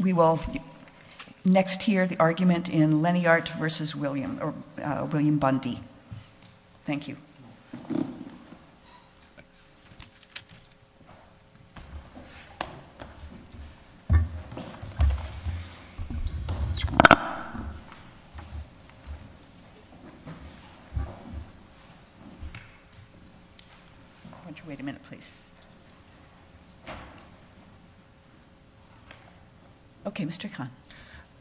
We will next hear the argument in Leniart v. William Bundy. Thank you. Okay, Mr. Khan.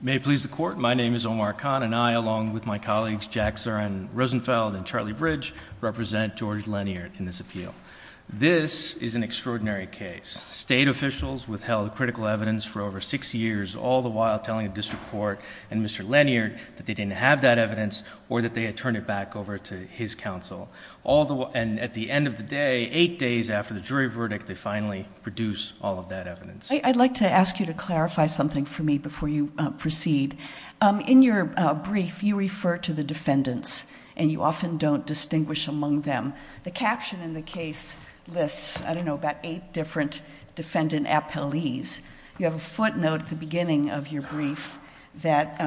May it please the court, my name is Omar Khan and I, along with my colleagues Jack Zarin Rosenfeld and Charlie Bridge, represent George Leniart in this appeal. This is an extraordinary case. State officials withheld critical evidence for over six years, all the while telling the district court and Mr. Leniart that they didn't have that evidence or that they had turned it back over to his counsel. And at the end of the day, eight days after the jury verdict, they finally produced all of that evidence. I'd like to ask you to clarify something for me before you proceed. In your brief, you refer to the defendants, and you often don't distinguish among them. The caption in the case lists, I don't know, about eight different defendant appellees. You have a footnote at the beginning of your brief that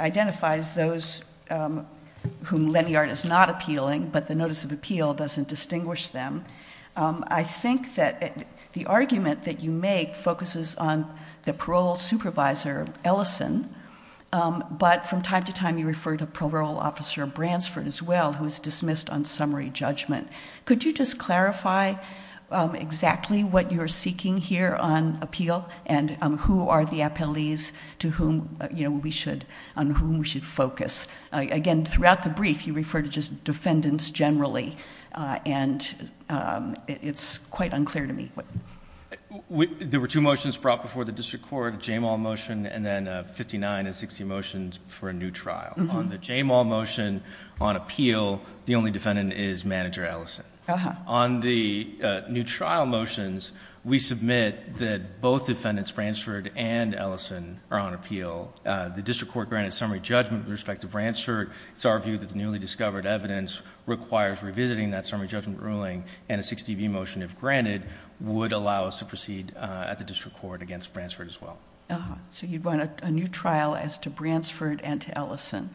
identifies those whom Leniart is not appealing, but the notice of appeal doesn't distinguish them. I think that the argument that you make focuses on the parole supervisor, Ellison, but from time to time you refer to parole officer Bransford as well, who is dismissed on summary judgment. Could you just clarify exactly what you're seeking here on appeal, and who are the appellees on whom we should focus? Again, throughout the brief, you refer to just defendants generally, and it's quite unclear to me. There were two motions brought before the district court, a JAMAL motion and then 59 and 60 motions for a new trial. On the JAMAL motion on appeal, the only defendant is Manager Ellison. On the new trial motions, we submit that both defendants, Bransford and Ellison, are on appeal. The district court granted summary judgment with respect to Bransford. It's our view that the newly discovered evidence requires revisiting that summary judgment ruling, and a 60B motion, if granted, would allow us to proceed at the district court against Bransford as well. So you'd want a new trial as to Bransford and to Ellison?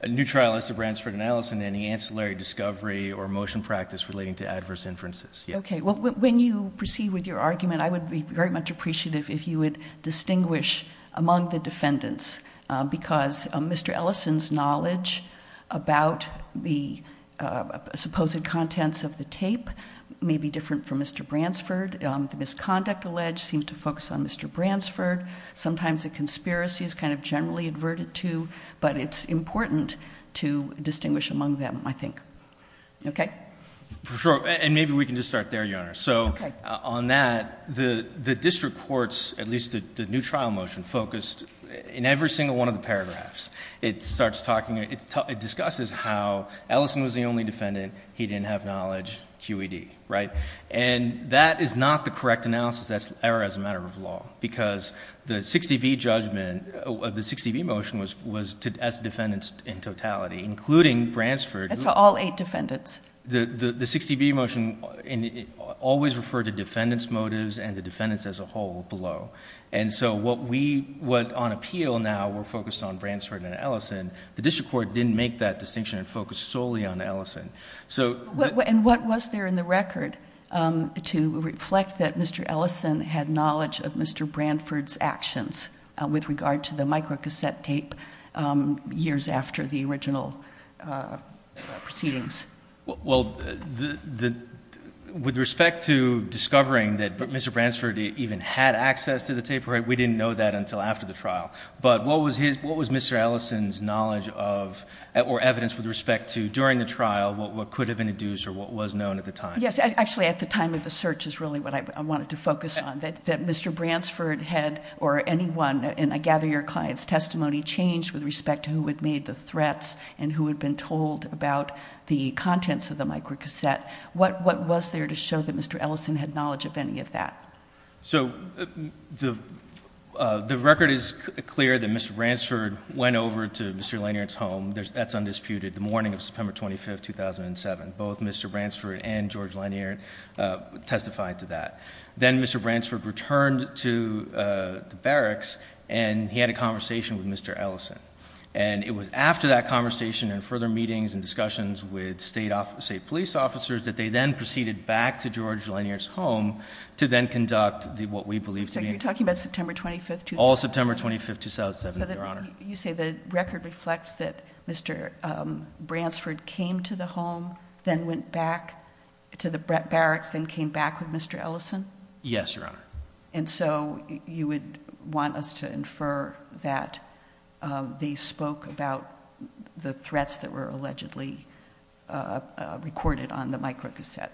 A new trial as to Bransford and Ellison, any ancillary discovery or motion practice relating to adverse inferences. Okay. Well, when you proceed with your argument, I would be very much appreciative if you would distinguish among the defendants, because Mr. Ellison's knowledge about the supposed contents of the tape may be different from Mr. Bransford. The misconduct alleged seemed to focus on Mr. Bransford. Sometimes a conspiracy is kind of generally adverted to, but it's important to distinguish among them, I think. Okay? For sure, and maybe we can just start there, Your Honor. Okay. So on that, the district court's, at least the new trial motion, focused in every single one of the paragraphs. It discusses how Ellison was the only defendant. He didn't have knowledge, QED, right? And that is not the correct analysis. That's error as a matter of law, because the 60B judgment of the 60B motion was as defendants in totality, including Bransford. That's for all eight defendants. The 60B motion always referred to defendants' motives and the defendants as a whole below. And so what on appeal now were focused on Bransford and Ellison, the district court didn't make that distinction and focused solely on Ellison. And what was there in the record to reflect that Mr. Ellison had knowledge of Mr. Bransford's actions with regard to the microcassette tape years after the original proceedings? Well, with respect to discovering that Mr. Bransford even had access to the tape, we didn't know that until after the trial. But what was Mr. Ellison's knowledge of, or evidence with respect to, during the trial, what could have been induced or what was known at the time? Yes, actually at the time of the search is really what I wanted to focus on. That Mr. Bransford had, or anyone, and I gather your client's testimony changed with respect to who had made the threats and who had been told about the contents of the microcassette. What was there to show that Mr. Ellison had knowledge of any of that? So the record is clear that Mr. Bransford went over to Mr. Lanier's home, that's undisputed, the morning of September 25th, 2007. Both Mr. Bransford and George Lanier testified to that. Then Mr. Bransford returned to the barracks and he had a conversation with Mr. Ellison. And it was after that conversation and further meetings and discussions with state police officers that they then proceeded back to George Lanier's home to then conduct what we believe to be- So you're talking about September 25th, 2007? All September 25th, 2007, Your Honor. So you say the record reflects that Mr. Bransford came to the home, then went back to the barracks, then came back with Mr. Ellison? Yes, Your Honor. And so you would want us to infer that they spoke about the threats that were allegedly recorded on the microcassette?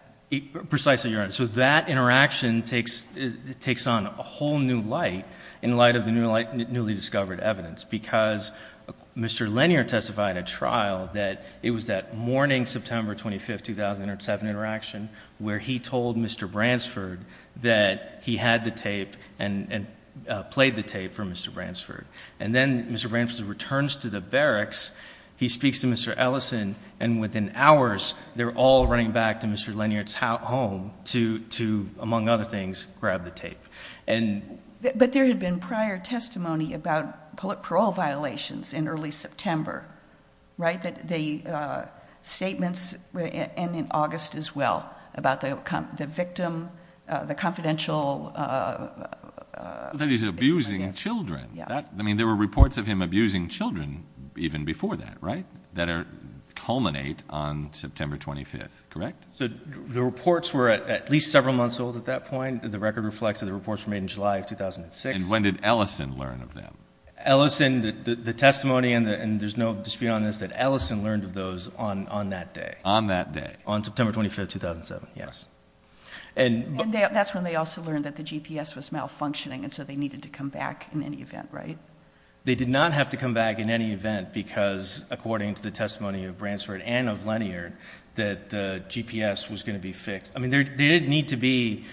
So that interaction takes on a whole new light in light of the newly discovered evidence. Because Mr. Lanier testified at trial that it was that morning, September 25th, 2007 interaction, where he told Mr. Bransford that he had the tape and played the tape for Mr. Bransford. And then Mr. Bransford returns to the barracks, he speaks to Mr. Ellison, and within hours they're all running back to Mr. Lanier's home to, among other things, grab the tape. But there had been prior testimony about parole violations in early September, right? The statements, and in August as well, about the victim, the confidential- That he's abusing children. I mean, there were reports of him abusing children even before that, right? That culminate on September 25th, correct? The reports were at least several months old at that point. The record reflects that the reports were made in July of 2006. And when did Ellison learn of them? Ellison, the testimony, and there's no dispute on this, that Ellison learned of those on that day. On that day. On September 25th, 2007, yes. And- And that's when they also learned that the GPS was malfunctioning, and so they needed to come back in any event, right? They did not have to come back in any event because, according to the testimony of Bransford and of Lanier, that the GPS was going to be fixed. I mean, there did need to be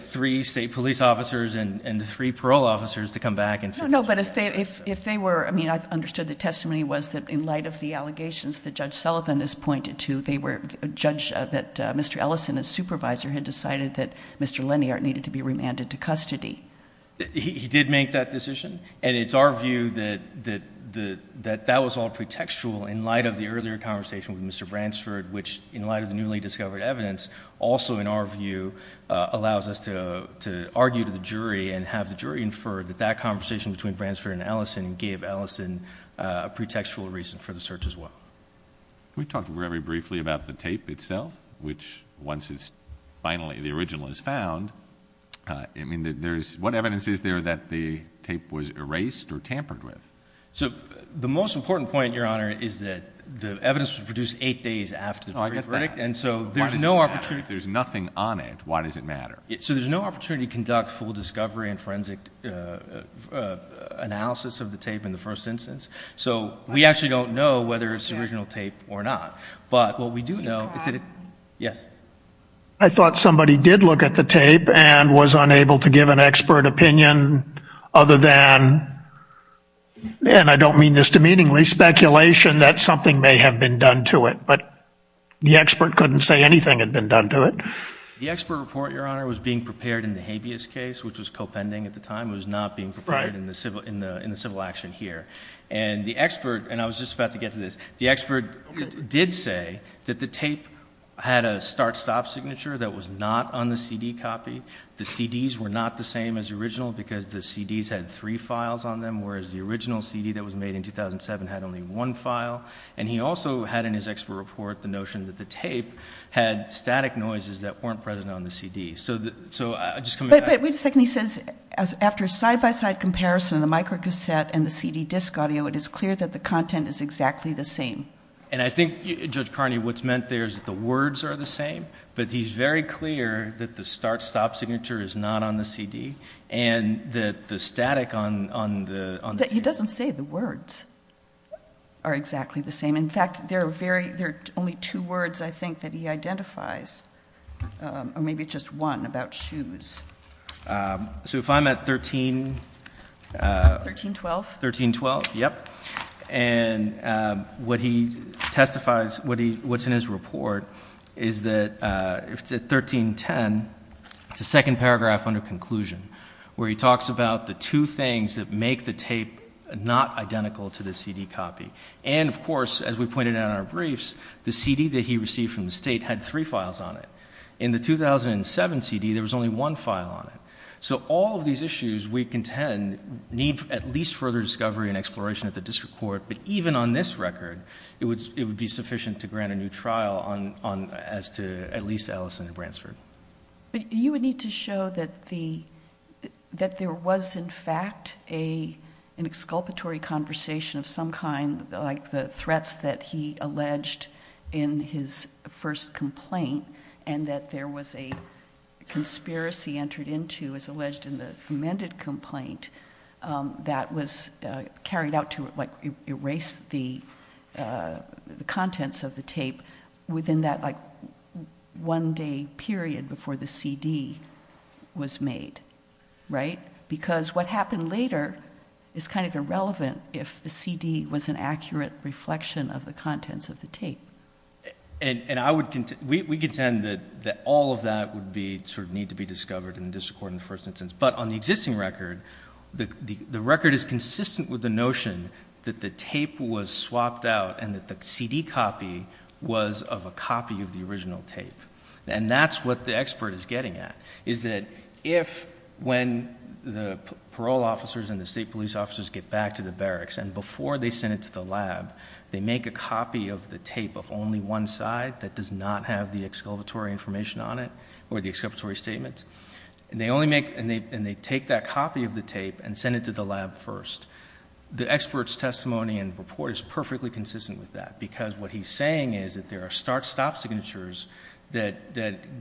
three state police officers and three parole officers to come back and fix it. No, but if they were, I mean, I understood the testimony was that in light of the allegations that Judge Sullivan has pointed to, they were, Judge, that Mr. Ellison, as supervisor, had decided that Mr. Lanier needed to be remanded to custody. He did make that decision, and it's our view that that was all pretextual in light of the earlier conversation with Mr. Bransford, which, in light of the newly discovered evidence, also, in our view, allows us to argue to the jury and have the jury infer that that conversation between Bransford and Ellison gave Ellison a pretextual reason for the search as well. Can we talk very briefly about the tape itself, which, once it's finally, the original is found, I mean, what evidence is there that the tape was erased or tampered with? So the most important point, Your Honor, is that the evidence was produced eight days after the jury verdict. Oh, I get that. Why does it matter? If there's nothing on it, why does it matter? So there's no opportunity to conduct full discovery and forensic analysis of the tape in the first instance. So we actually don't know whether it's the original tape or not, but what we do know is that it, yes? I thought somebody did look at the tape and was unable to give an expert opinion other than, and I don't mean this demeaningly, speculation that something may have been done to it, but the expert couldn't say anything had been done to it. The expert report, Your Honor, was being prepared in the habeas case, which was co-pending at the time. It was not being prepared in the civil action here, and the expert, and I was just about to get to this, the expert did say that the tape had a start-stop signature that was not on the CD copy. The CDs were not the same as the original because the CDs had three files on them, whereas the original CD that was made in 2007 had only one file, and he also had in his expert report the notion that the tape had static noises that weren't present on the CD. So just coming back. But wait a second. He says after a side-by-side comparison of the microcassette and the CD disc audio, it is clear that the content is exactly the same. And I think, Judge Carney, what's meant there is that the words are the same, but he's very clear that the start-stop signature is not on the CD and that the static on the tape. But he doesn't say the words are exactly the same. In fact, there are only two words I think that he identifies, or maybe just one, about shoes. So if I'm at 13- 1312. 1312, yep. And what he testifies, what's in his report is that if it's at 1310, it's the second paragraph under conclusion, where he talks about the two things that make the tape not identical to the CD copy. And, of course, as we pointed out in our briefs, the CD that he received from the State had three files on it. In the 2007 CD, there was only one file on it. So all of these issues, we contend, need at least further discovery and exploration at the district court. But even on this record, it would be sufficient to grant a new trial as to at least Ellison and Bransford. But you would need to show that there was, in fact, an exculpatory conversation of some kind, like the threats that he alleged in his first complaint, and that there was a conspiracy entered into, as alleged in the amended complaint, that was carried out to erase the contents of the tape within that one-day period before the CD was made. Right? Because what happened later is kind of irrelevant if the CD was an accurate reflection of the contents of the tape. And we contend that all of that would need to be discovered in the district court in the first instance. But on the existing record, the record is consistent with the notion that the tape was swapped out and that the CD copy was of a copy of the original tape. And that's what the expert is getting at, is that if, when the parole officers and the state police officers get back to the barracks, and before they send it to the lab, they make a copy of the tape of only one side that does not have the exculpatory information on it or the exculpatory statements, and they take that copy of the tape and send it to the lab first, the expert's testimony and report is perfectly consistent with that, because what he's saying is that there are start-stop signatures that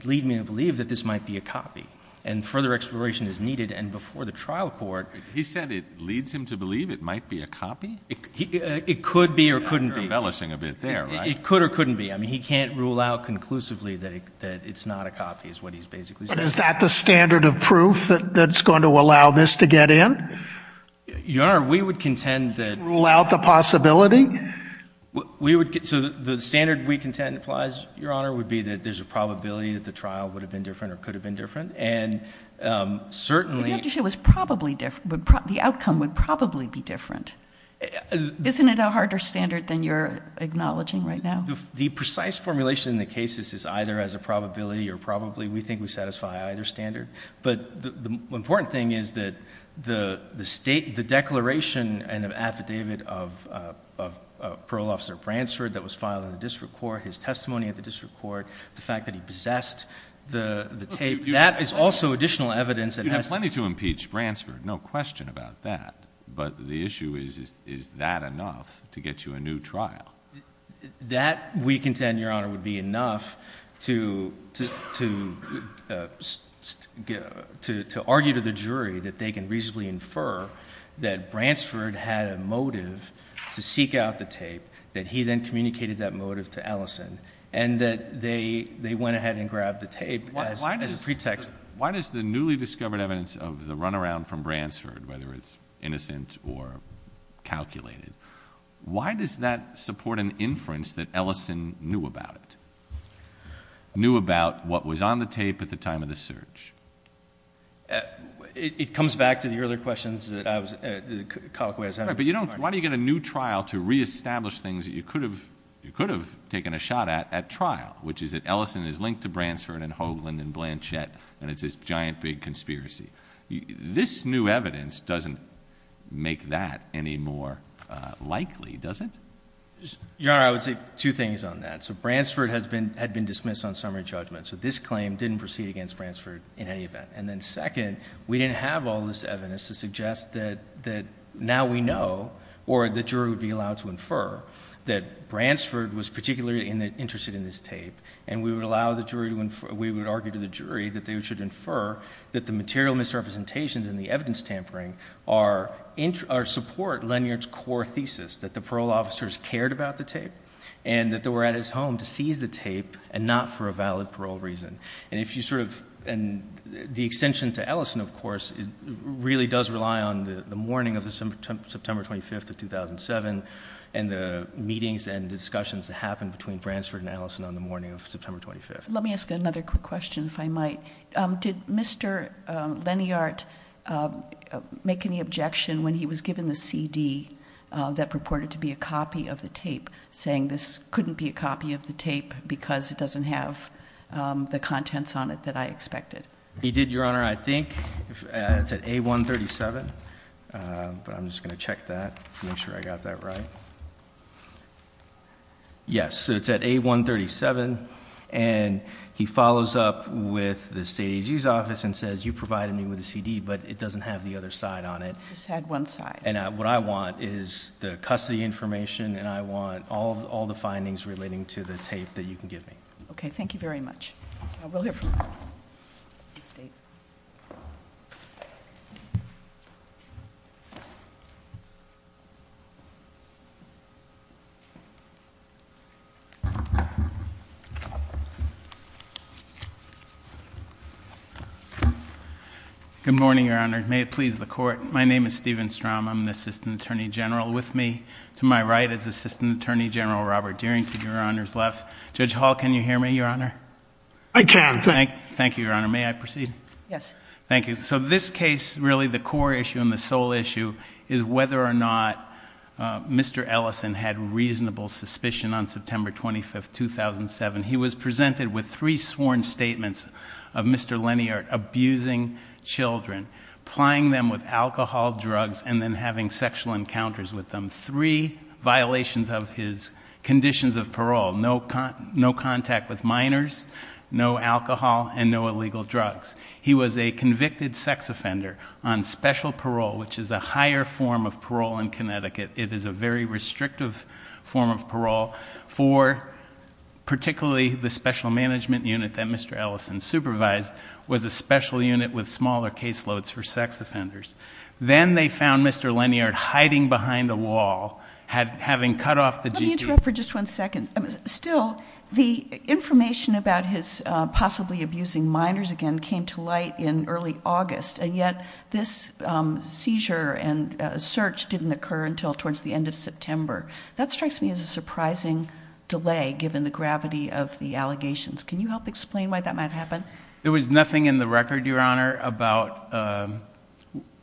lead me to believe that this might be a copy, and further exploration is needed. And before the trial court— He said it leads him to believe it might be a copy? It could be or couldn't be. You're embellishing a bit there, right? It could or couldn't be. I mean, he can't rule out conclusively that it's not a copy is what he's basically saying. Is that the standard of proof that's going to allow this to get in? Your Honor, we would contend that— Rule out the possibility? We would—so the standard we contend applies, Your Honor, would be that there's a probability that the trial would have been different or could have been different, and certainly— But you have to say it was probably different, the outcome would probably be different. Isn't it a harder standard than you're acknowledging right now? The precise formulation in the case is either as a probability or probably. We think we satisfy either standard. But the important thing is that the declaration and the affidavit of Parole Officer Bransford that was filed in the district court, his testimony at the district court, the fact that he possessed the tape, that is also additional evidence that has to— You have plenty to impeach Bransford, no question about that. But the issue is, is that enough to get you a new trial? That, we contend, Your Honor, would be enough to argue to the jury that they can reasonably infer that Bransford had a motive to seek out the tape, that he then communicated that motive to Ellison, and that they went ahead and grabbed the tape as a pretext. Why does the newly discovered evidence of the runaround from Bransford, whether it's innocent or calculated, why does that support an inference that Ellison knew about it, knew about what was on the tape at the time of the search? It comes back to the earlier questions that I was—Cockway has had. But you don't—why don't you get a new trial to reestablish things that you could have taken a shot at at trial, which is that Ellison is linked to Bransford and Hoagland and Blanchett, and it's this giant big conspiracy. This new evidence doesn't make that any more likely, does it? Your Honor, I would say two things on that. So Bransford had been dismissed on summary judgment, so this claim didn't proceed against Bransford in any event. And then second, we didn't have all this evidence to suggest that now we know, or the jury would be allowed to infer, that Bransford was particularly interested in this tape, and we would allow the jury to—we would argue to the jury that they should infer that the material misrepresentations and the evidence tampering are—support Lanyard's core thesis, that the parole officers cared about the tape and that they were at his home to seize the tape and not for a valid parole reason. And if you sort of—and the extension to Ellison, of course, really does rely on the morning of September 25th of 2007 and the meetings and discussions that happened between Bransford and Ellison on the morning of September 25th. Let me ask another quick question, if I might. Did Mr. Lanyard make any objection when he was given the CD that purported to be a copy of the tape, saying this couldn't be a copy of the tape because it doesn't have the contents on it that I expected? He did, Your Honor. Your Honor, I think it's at A137, but I'm just going to check that to make sure I got that right. Yes, so it's at A137, and he follows up with the state AG's office and says, you provided me with the CD, but it doesn't have the other side on it. It just had one side. And what I want is the custody information, and I want all the findings relating to the tape that you can give me. Okay, thank you very much. I will hear from you. Good morning, Your Honor. May it please the Court. My name is Steven Strom. I'm the Assistant Attorney General. With me to my right is Assistant Attorney General Robert Deerington. Your Honor's left. Judge Hall, can you hear me, Your Honor? I can. Thank you, Your Honor. May I proceed? Yes. Thank you. So this case, really the core issue and the sole issue is whether or not Mr. Ellison had reasonable suspicion on September 25, 2007. He was presented with three sworn statements of Mr. Leniart abusing children, plying them with alcohol, drugs, and then having sexual encounters with them, three violations of his conditions of parole, no contact with minors, no alcohol, and no illegal drugs. He was a convicted sex offender on special parole, which is a higher form of parole in Connecticut. It is a very restrictive form of parole for particularly the special management unit that Mr. Ellison supervised was a special unit with smaller caseloads for sex offenders. Then they found Mr. Leniart hiding behind a wall, having cut off the g-tube. Let me interrupt for just one second. Still, the information about his possibly abusing minors again came to light in early August, and yet this seizure and search didn't occur until towards the end of September. That strikes me as a surprising delay given the gravity of the allegations. Can you help explain why that might happen? There was nothing in the record, Your Honor, about,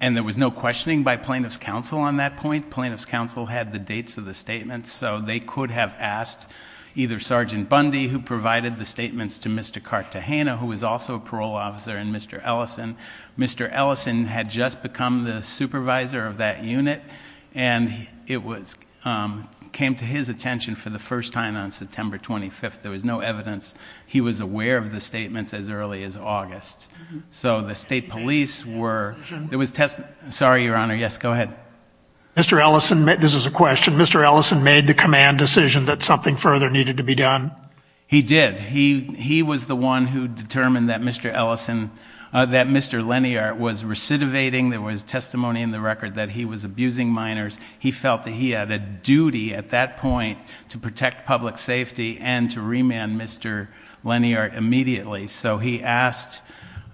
and there was no questioning by plaintiff's counsel on that point. Plaintiff's counsel had the dates of the statements, so they could have asked either Sergeant Bundy, who provided the statements, to Mr. Cartagena, who was also a parole officer, and Mr. Ellison. Mr. Ellison had just become the supervisor of that unit, and it came to his attention for the first time on September 25th. There was no evidence. He was aware of the statements as early as August. So the state police were... Sorry, Your Honor. Yes, go ahead. Mr. Ellison... This is a question. Mr. Ellison made the command decision that something further needed to be done? He did. He was the one who determined that Mr. Leniart was recidivating. There was testimony in the record that he was abusing minors. He felt that he had a duty at that point to protect public safety and to remand Mr. Leniart immediately. So he asked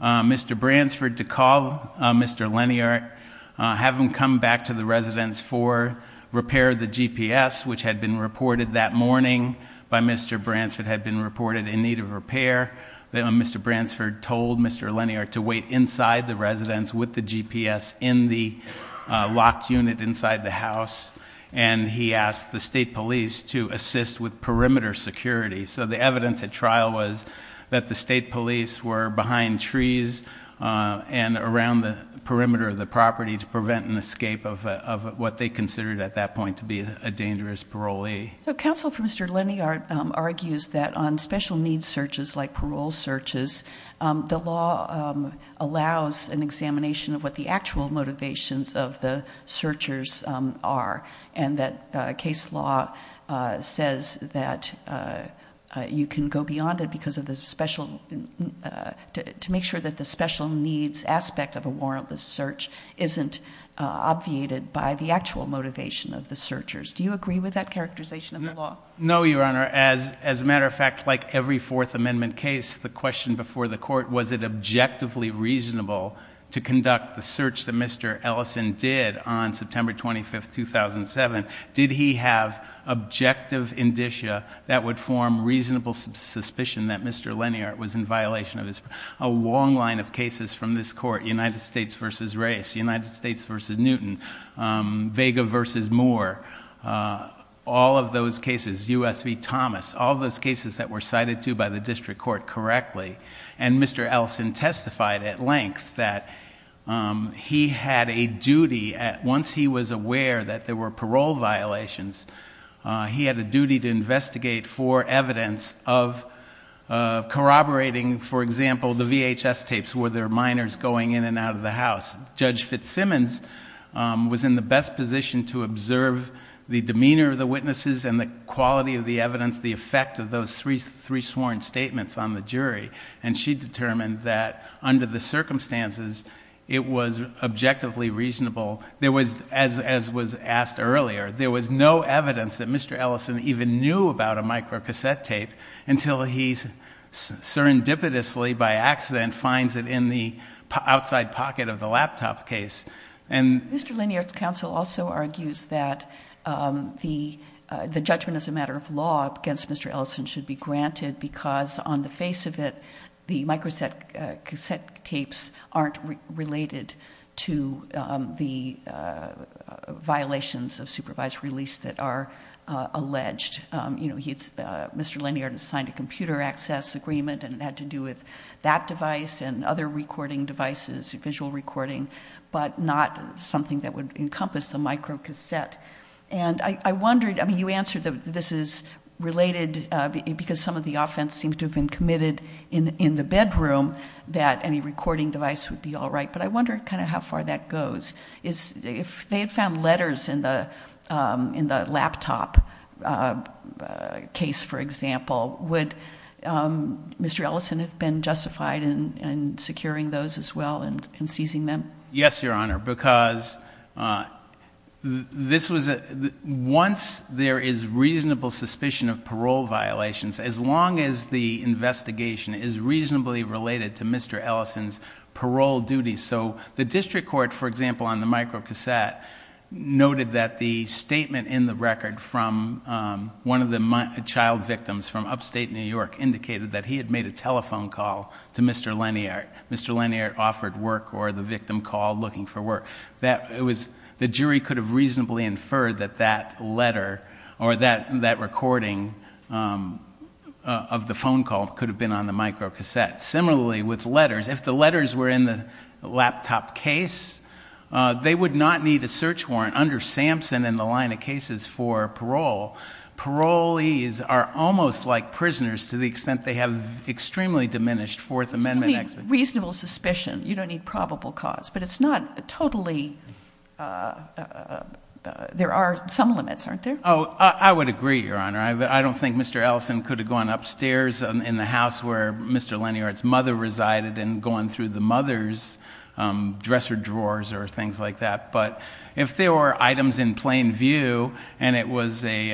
Mr. Bransford to call Mr. Leniart, have him come back to the residence for repair of the GPS, which had been reported that morning by Mr. Bransford, had been reported in need of repair. Mr. Bransford told Mr. Leniart to wait inside the residence with the GPS in the locked unit inside the house, and he asked the state police to assist with perimeter security. So the evidence at trial was that the state police were behind trees and around the perimeter of the property to prevent an escape of what they considered at that point to be a dangerous parolee. So counsel for Mr. Leniart argues that on special needs searches like parole searches, the law allows an examination of what the actual motivations of the searchers are, and that case law says that you can go beyond it to make sure that the special needs aspect of a warrantless search isn't obviated by the actual motivation of the searchers. Do you agree with that characterization of the law? No, Your Honor. As a matter of fact, like every Fourth Amendment case, the question before the court, was it objectively reasonable to conduct the search that Mr. Ellison did on September 25, 2007? Did he have objective indicia that would form reasonable suspicion that Mr. Leniart was in violation of his parole? A long line of cases from this court, United States v. Race, United States v. Newton, Vega v. Moore, all of those cases, U.S. v. Thomas, all those cases that were cited to by the district court correctly, and Mr. Ellison testified at length that he had a duty, once he was aware that there were parole violations, he had a duty to investigate for evidence of corroborating, for example, the VHS tapes where there were minors going in and out of the house. Judge Fitzsimmons was in the best position to observe the demeanor of the witnesses and the quality of the evidence, the effect of those three sworn statements on the jury, and she determined that under the circumstances, it was objectively reasonable. There was, as was asked earlier, there was no evidence that Mr. Ellison even knew about a microcassette tape until he serendipitously, by accident, finds it in the outside pocket of the laptop case. Mr. Leniart's counsel also argues that the judgment as a matter of law against Mr. Ellison should be granted because on the face of it, the microcassette tapes aren't related to the violations of supervised release that are alleged. Mr. Leniart has signed a computer access agreement and it had to do with that device and other recording devices, visual recording, but not something that would encompass the microcassette. And I wondered, I mean, you answered that this is related because some of the offense seems to have been committed in the bedroom that any recording device would be all right, but I wonder kind of how far that goes. If they had found letters in the laptop case, for example, would Mr. Ellison have been justified in securing those as well and seizing them? Yes, Your Honor, because once there is reasonable suspicion of parole violations, as long as the investigation is reasonably related to Mr. Ellison's parole duties, so the district court, for example, on the microcassette noted that the statement in the record from one of the child victims from upstate New York indicated that he had made a telephone call to Mr. Leniart. Mr. Leniart offered work or the victim called looking for work. The jury could have reasonably inferred that that letter or that recording of the phone call could have been on the microcassette. Similarly, with letters, if the letters were in the laptop case, they would not need a search warrant under Sampson in the line of cases for parole. Parolees are almost like prisoners to the extent they have extremely diminished Fourth Amendment expertise. So you need reasonable suspicion. You don't need probable cause. But it's not totally – there are some limits, aren't there? Oh, I would agree, Your Honor. I don't think Mr. Ellison could have gone upstairs in the house where Mr. Leniart's mother resided and gone through the mother's dresser drawers or things like that. But if there were items in plain view, and it was a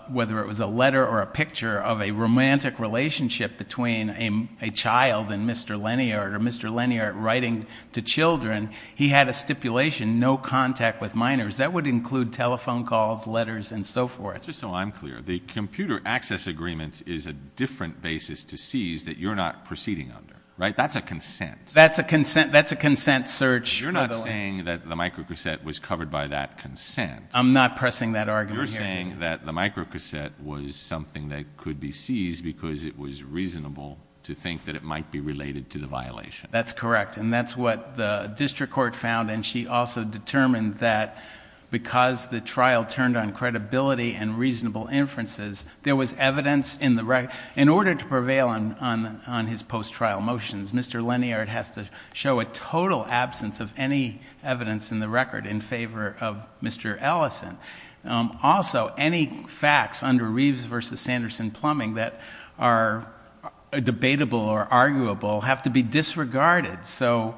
– whether it was a letter or a picture of a romantic relationship between a child and Mr. Leniart or Mr. Leniart writing to children, he had a stipulation, no contact with minors. That would include telephone calls, letters, and so forth. Just so I'm clear, the computer access agreement is a different basis to seize that you're not proceeding under, right? That's a consent. That's a consent. That's a consent search. You're not saying that the microcassette was covered by that consent. I'm not pressing that argument. You're saying that the microcassette was something that could be seized because it was reasonable to think that it might be related to the violation. That's correct, and that's what the district court found. And she also determined that because the trial turned on credibility and reasonable inferences, there was evidence in the record. In order to prevail on his post-trial motions, Mr. Leniart has to show a total absence of any evidence in the record in favor of Mr. Ellison. Also, any facts under Reeves v. Sanderson plumbing that are debatable or arguable have to be disregarded. So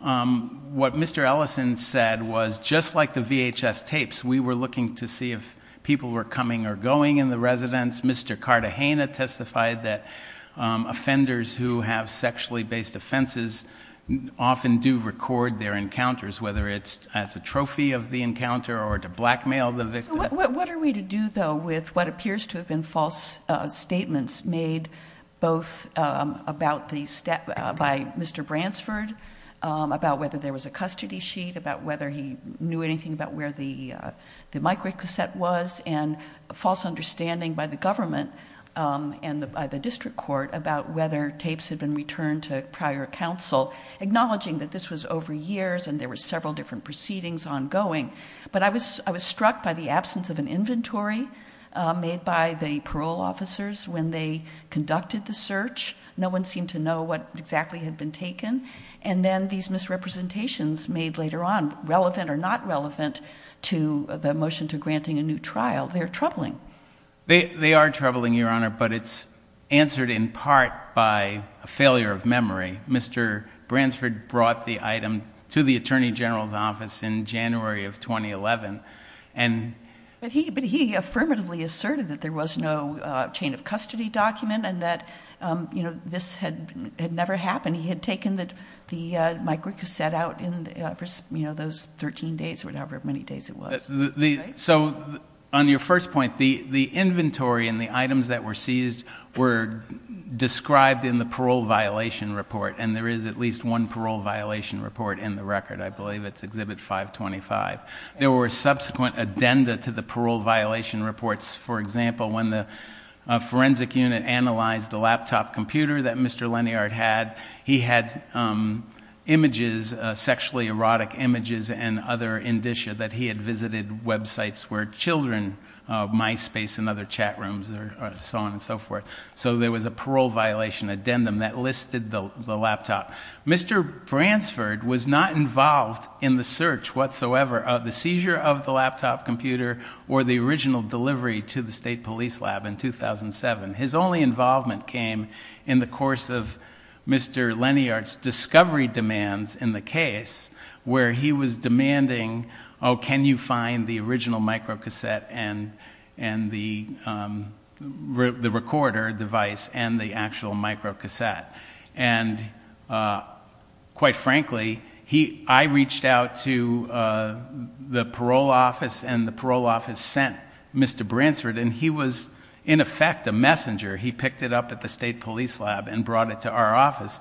what Mr. Ellison said was just like the VHS tapes, we were looking to see if people were coming or going in the residence. Mr. Cartagena testified that offenders who have sexually based offenses often do record their encounters, whether it's as a trophy of the encounter or to blackmail the victim. What are we to do, though, with what appears to have been false statements made both by Mr. Bransford, about whether there was a custody sheet, about whether he knew anything about where the microcassette was, and a false understanding by the government and by the district court about whether tapes had been returned to prior counsel, acknowledging that this was over years and there were several different proceedings ongoing. But I was struck by the absence of an inventory made by the parole officers when they conducted the search. No one seemed to know what exactly had been taken. And then these misrepresentations made later on, relevant or not relevant to the motion to granting a new trial, they're troubling. They are troubling, Your Honor, but it's answered in part by a failure of memory. Mr. Bransford brought the item to the Attorney General's office in January of 2011. But he affirmatively asserted that there was no chain of custody document and that this had never happened. He had taken the microcassette out in those 13 days or however many days it was. So on your first point, the inventory and the items that were seized were described in the parole violation report, and there is at least one parole violation report in the record. I believe it's Exhibit 525. There were subsequent addenda to the parole violation reports. For example, when the forensic unit analyzed the laptop computer that Mr. Leniart had, he had images, sexually erotic images and other indicia that he had visited websites where children, MySpace and other chat rooms and so on and so forth. So there was a parole violation addendum that listed the laptop. Mr. Bransford was not involved in the search whatsoever of the seizure of the laptop computer or the original delivery to the state police lab in 2007. His only involvement came in the course of Mr. Leniart's discovery demands in the case where he was demanding, oh, can you find the original microcassette and the recorder device and the actual microcassette? And quite frankly, I reached out to the parole office and the parole office sent Mr. Bransford, and he was in effect a messenger. He picked it up at the state police lab and brought it to our office.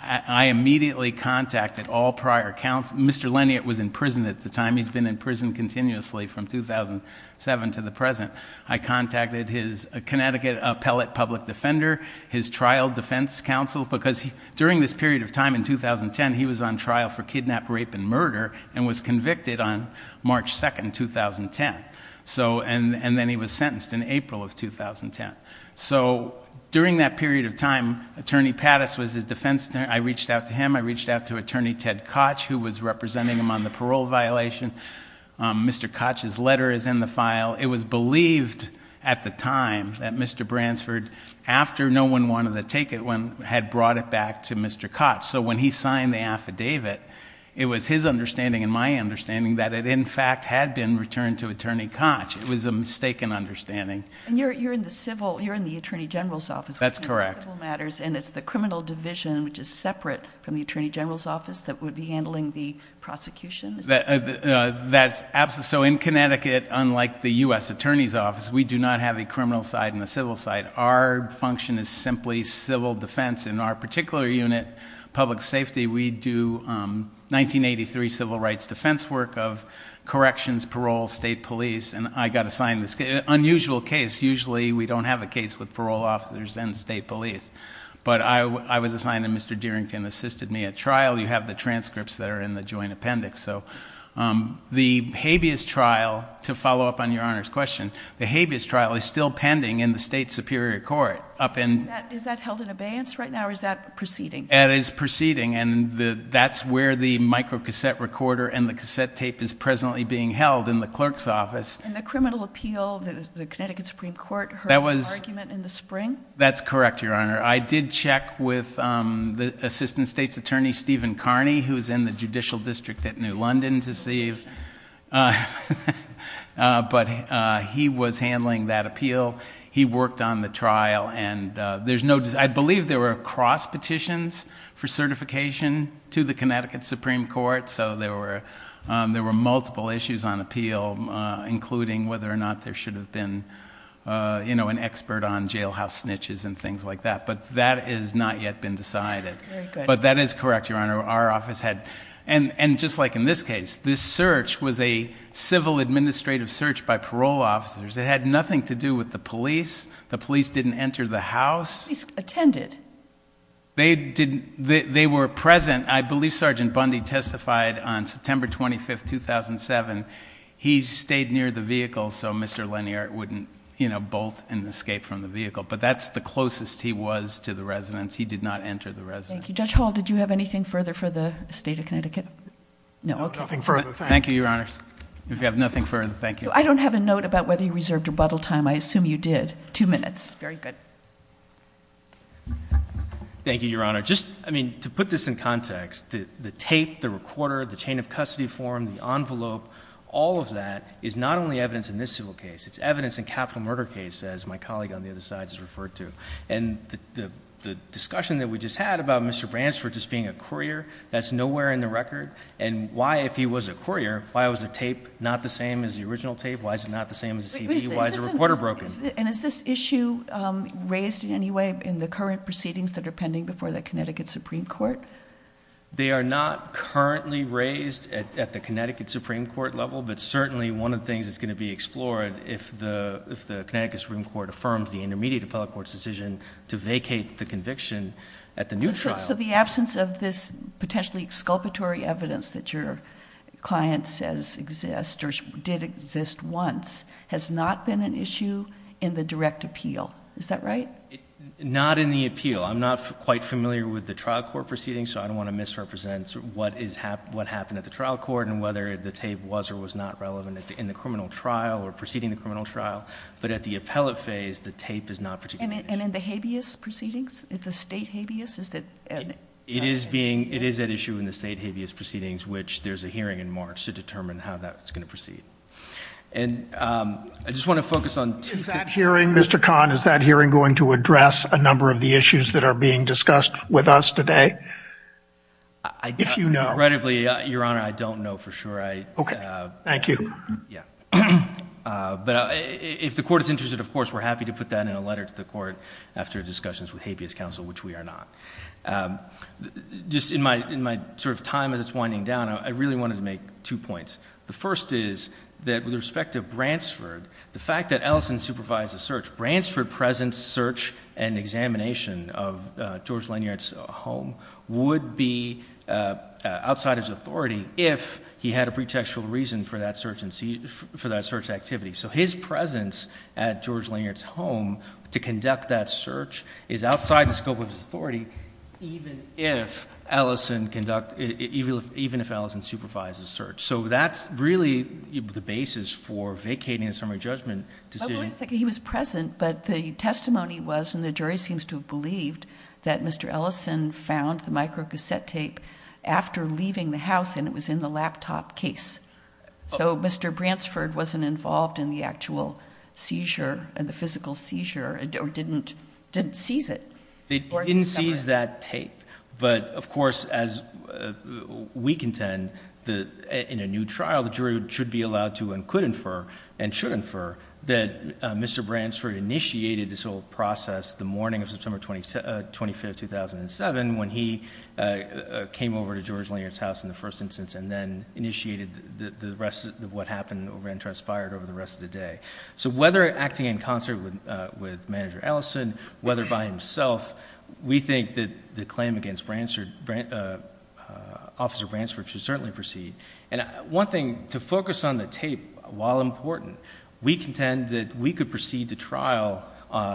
I immediately contacted all prior counsel. Mr. Leniart was in prison at the time. He's been in prison continuously from 2007 to the present. I contacted his Connecticut appellate public defender, his trial defense counsel, because during this period of time in 2010, he was on trial for kidnap, rape and murder and was convicted on March 2, 2010. And then he was sentenced in April of 2010. So during that period of time, Attorney Pattis was his defense attorney. I reached out to him. I reached out to Attorney Ted Koch, who was representing him on the parole violation. Mr. Koch's letter is in the file. It was believed at the time that Mr. Bransford, after no one wanted to take it, had brought it back to Mr. Koch. So when he signed the affidavit, it was his understanding and my understanding that it, in fact, had been returned to Attorney Koch. It was a mistaken understanding. And you're in the civil—you're in the Attorney General's office. That's correct. You're handling civil matters, and it's the criminal division, which is separate from the Attorney General's office, that would be handling the prosecution? That's—so in Connecticut, unlike the U.S. Attorney's office, we do not have a criminal side and a civil side. Our function is simply civil defense. In our particular unit, public safety, we do 1983 civil rights defense work of corrections, parole, state police. And I got assigned this unusual case. Usually we don't have a case with parole officers and state police. But I was assigned, and Mr. Dearington assisted me at trial. You have the transcripts that are in the joint appendix. So the habeas trial, to follow up on Your Honor's question, the habeas trial is still pending in the state superior court up in— Is that held in abeyance right now, or is that proceeding? That is proceeding, and that's where the microcassette recorder and the cassette tape is presently being held in the clerk's office. And the criminal appeal, the Connecticut Supreme Court heard an argument in the spring? That's correct, Your Honor. I did check with the assistant state's attorney, Stephen Carney, who is in the judicial district at New London to see if— he was handling that appeal. He worked on the trial, and there's no— I believe there were cross-petitions for certification to the Connecticut Supreme Court. So there were multiple issues on appeal, including whether or not there should have been an expert on jailhouse snitches and things like that. But that has not yet been decided. But that is correct, Your Honor. Our office had—and just like in this case, this search was a civil administrative search by parole officers. It had nothing to do with the police. The police didn't enter the house. The police attended. They were present. I believe Sergeant Bundy testified on September 25, 2007. He stayed near the vehicle so Mr. Leniart wouldn't bolt and escape from the vehicle. But that's the closest he was to the residence. He did not enter the residence. Thank you. Judge Hall, did you have anything further for the state of Connecticut? No, nothing further. Thank you. Thank you, Your Honors. If you have nothing further, thank you. I don't have a note about whether you reserved rebuttal time. I assume you did. Two minutes. Very good. Thank you, Your Honor. Just, I mean, to put this in context, the tape, the recorder, the chain of custody form, the envelope, all of that is not only evidence in this civil case. It's evidence in capital murder cases, as my colleague on the other side has referred to. And the discussion that we just had about Mr. Bransford just being a courier, that's nowhere in the record. And why, if he was a courier, why was the tape not the same as the original tape? Why is it not the same as the CD? Why is the recorder broken? And is this issue raised in any way in the current proceedings that are pending before the Connecticut Supreme Court? They are not currently raised at the Connecticut Supreme Court level. But certainly, one of the things that's going to be explored, if the Connecticut Supreme Court affirms the intermediate appellate court's decision to vacate the conviction at the new trial. So the absence of this potentially exculpatory evidence that your client says exists or did exist once has not been an issue in the direct appeal, is that right? Not in the appeal. I'm not quite familiar with the trial court proceedings, so I don't want to misrepresent what happened at the trial court and whether the tape was or was not relevant in the criminal trial or preceding the criminal trial. But at the appellate phase, the tape is not particularly- And in the habeas proceedings? It's a state habeas? It is at issue in the state habeas proceedings, which there's a hearing in March to determine how that's going to proceed. And I just want to focus on- Mr. Kahn, is that hearing going to address a number of the issues that are being discussed with us today? If you know. Regrettably, Your Honor, I don't know for sure. Okay. Thank you. Yeah. But if the court is interested, of course, we're happy to put that in a letter to the court after discussions with habeas counsel, which we are not. Just in my sort of time as it's winding down, I really wanted to make two points. The first is that with respect to Bransford, the fact that Ellison supervised the search, Bransford's present search and examination of George Lanyard's home would be outside his authority if he had a pretextual reason for that search activity. So his presence at George Lanyard's home to conduct that search is outside the scope of his authority, even if Ellison supervised the search. So that's really the basis for vacating a summary judgment decision. He was present, but the testimony was, and the jury seems to have believed, that Mr. Ellison found the microcassette tape after leaving the house and it was in the laptop case. So Mr. Bransford wasn't involved in the actual seizure, the physical seizure, or didn't seize it. He didn't seize that tape. But, of course, as we contend, in a new trial, the jury should be allowed to and could infer and should infer that Mr. Bransford initiated this whole process the morning of September 25, 2007, when he came over to George Lanyard's house in the first instance and then initiated what happened and transpired over the rest of the day. So whether acting in concert with Manager Ellison, whether by himself, we think that the claim against Officer Bransford should certainly proceed. And one thing, to focus on the tape, while important, we contend that we could proceed to trial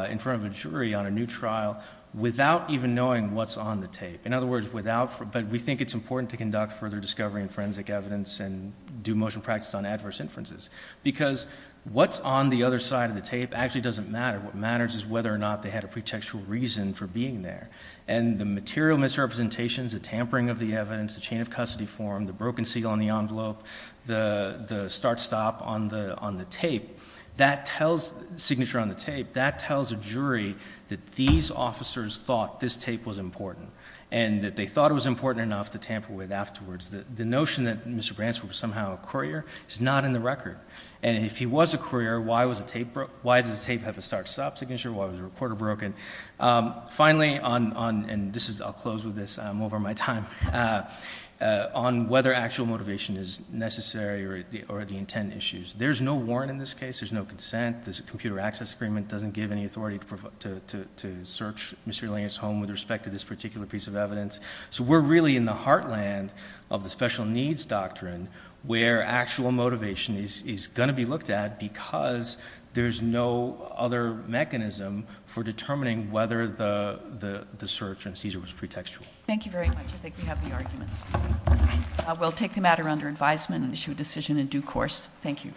in front of a jury on a new trial without even knowing what's on the tape. In other words, without, but we think it's important to conduct further discovery and forensic evidence and do motion practice on adverse inferences, because what's on the other side of the tape actually doesn't matter. What matters is whether or not they had a pretextual reason for being there. And the material misrepresentations, the tampering of the evidence, the chain of custody form, the broken seal on the envelope, the start-stop on the tape, that tells, signature on the tape, that tells a jury that these officers thought this tape was important and that they thought it was important enough to tamper with afterwards. The notion that Mr. Bransford was somehow a courier is not in the record. And if he was a courier, why does the tape have a start-stop signature? Why was the recorder broken? Finally, and I'll close with this, I'm over my time, on whether actual motivation is necessary or the intent issues. There's no warrant in this case. There's no consent. This computer access agreement doesn't give any authority to search Mr. Langer's home with respect to this particular piece of evidence. So we're really in the heartland of the special needs doctrine where actual motivation is going to be looked at because there's no other mechanism for determining whether the search in Caesar was pretextual. Thank you very much. I think we have the arguments. We'll take the matter under advisement and issue a decision in due course. Thank you.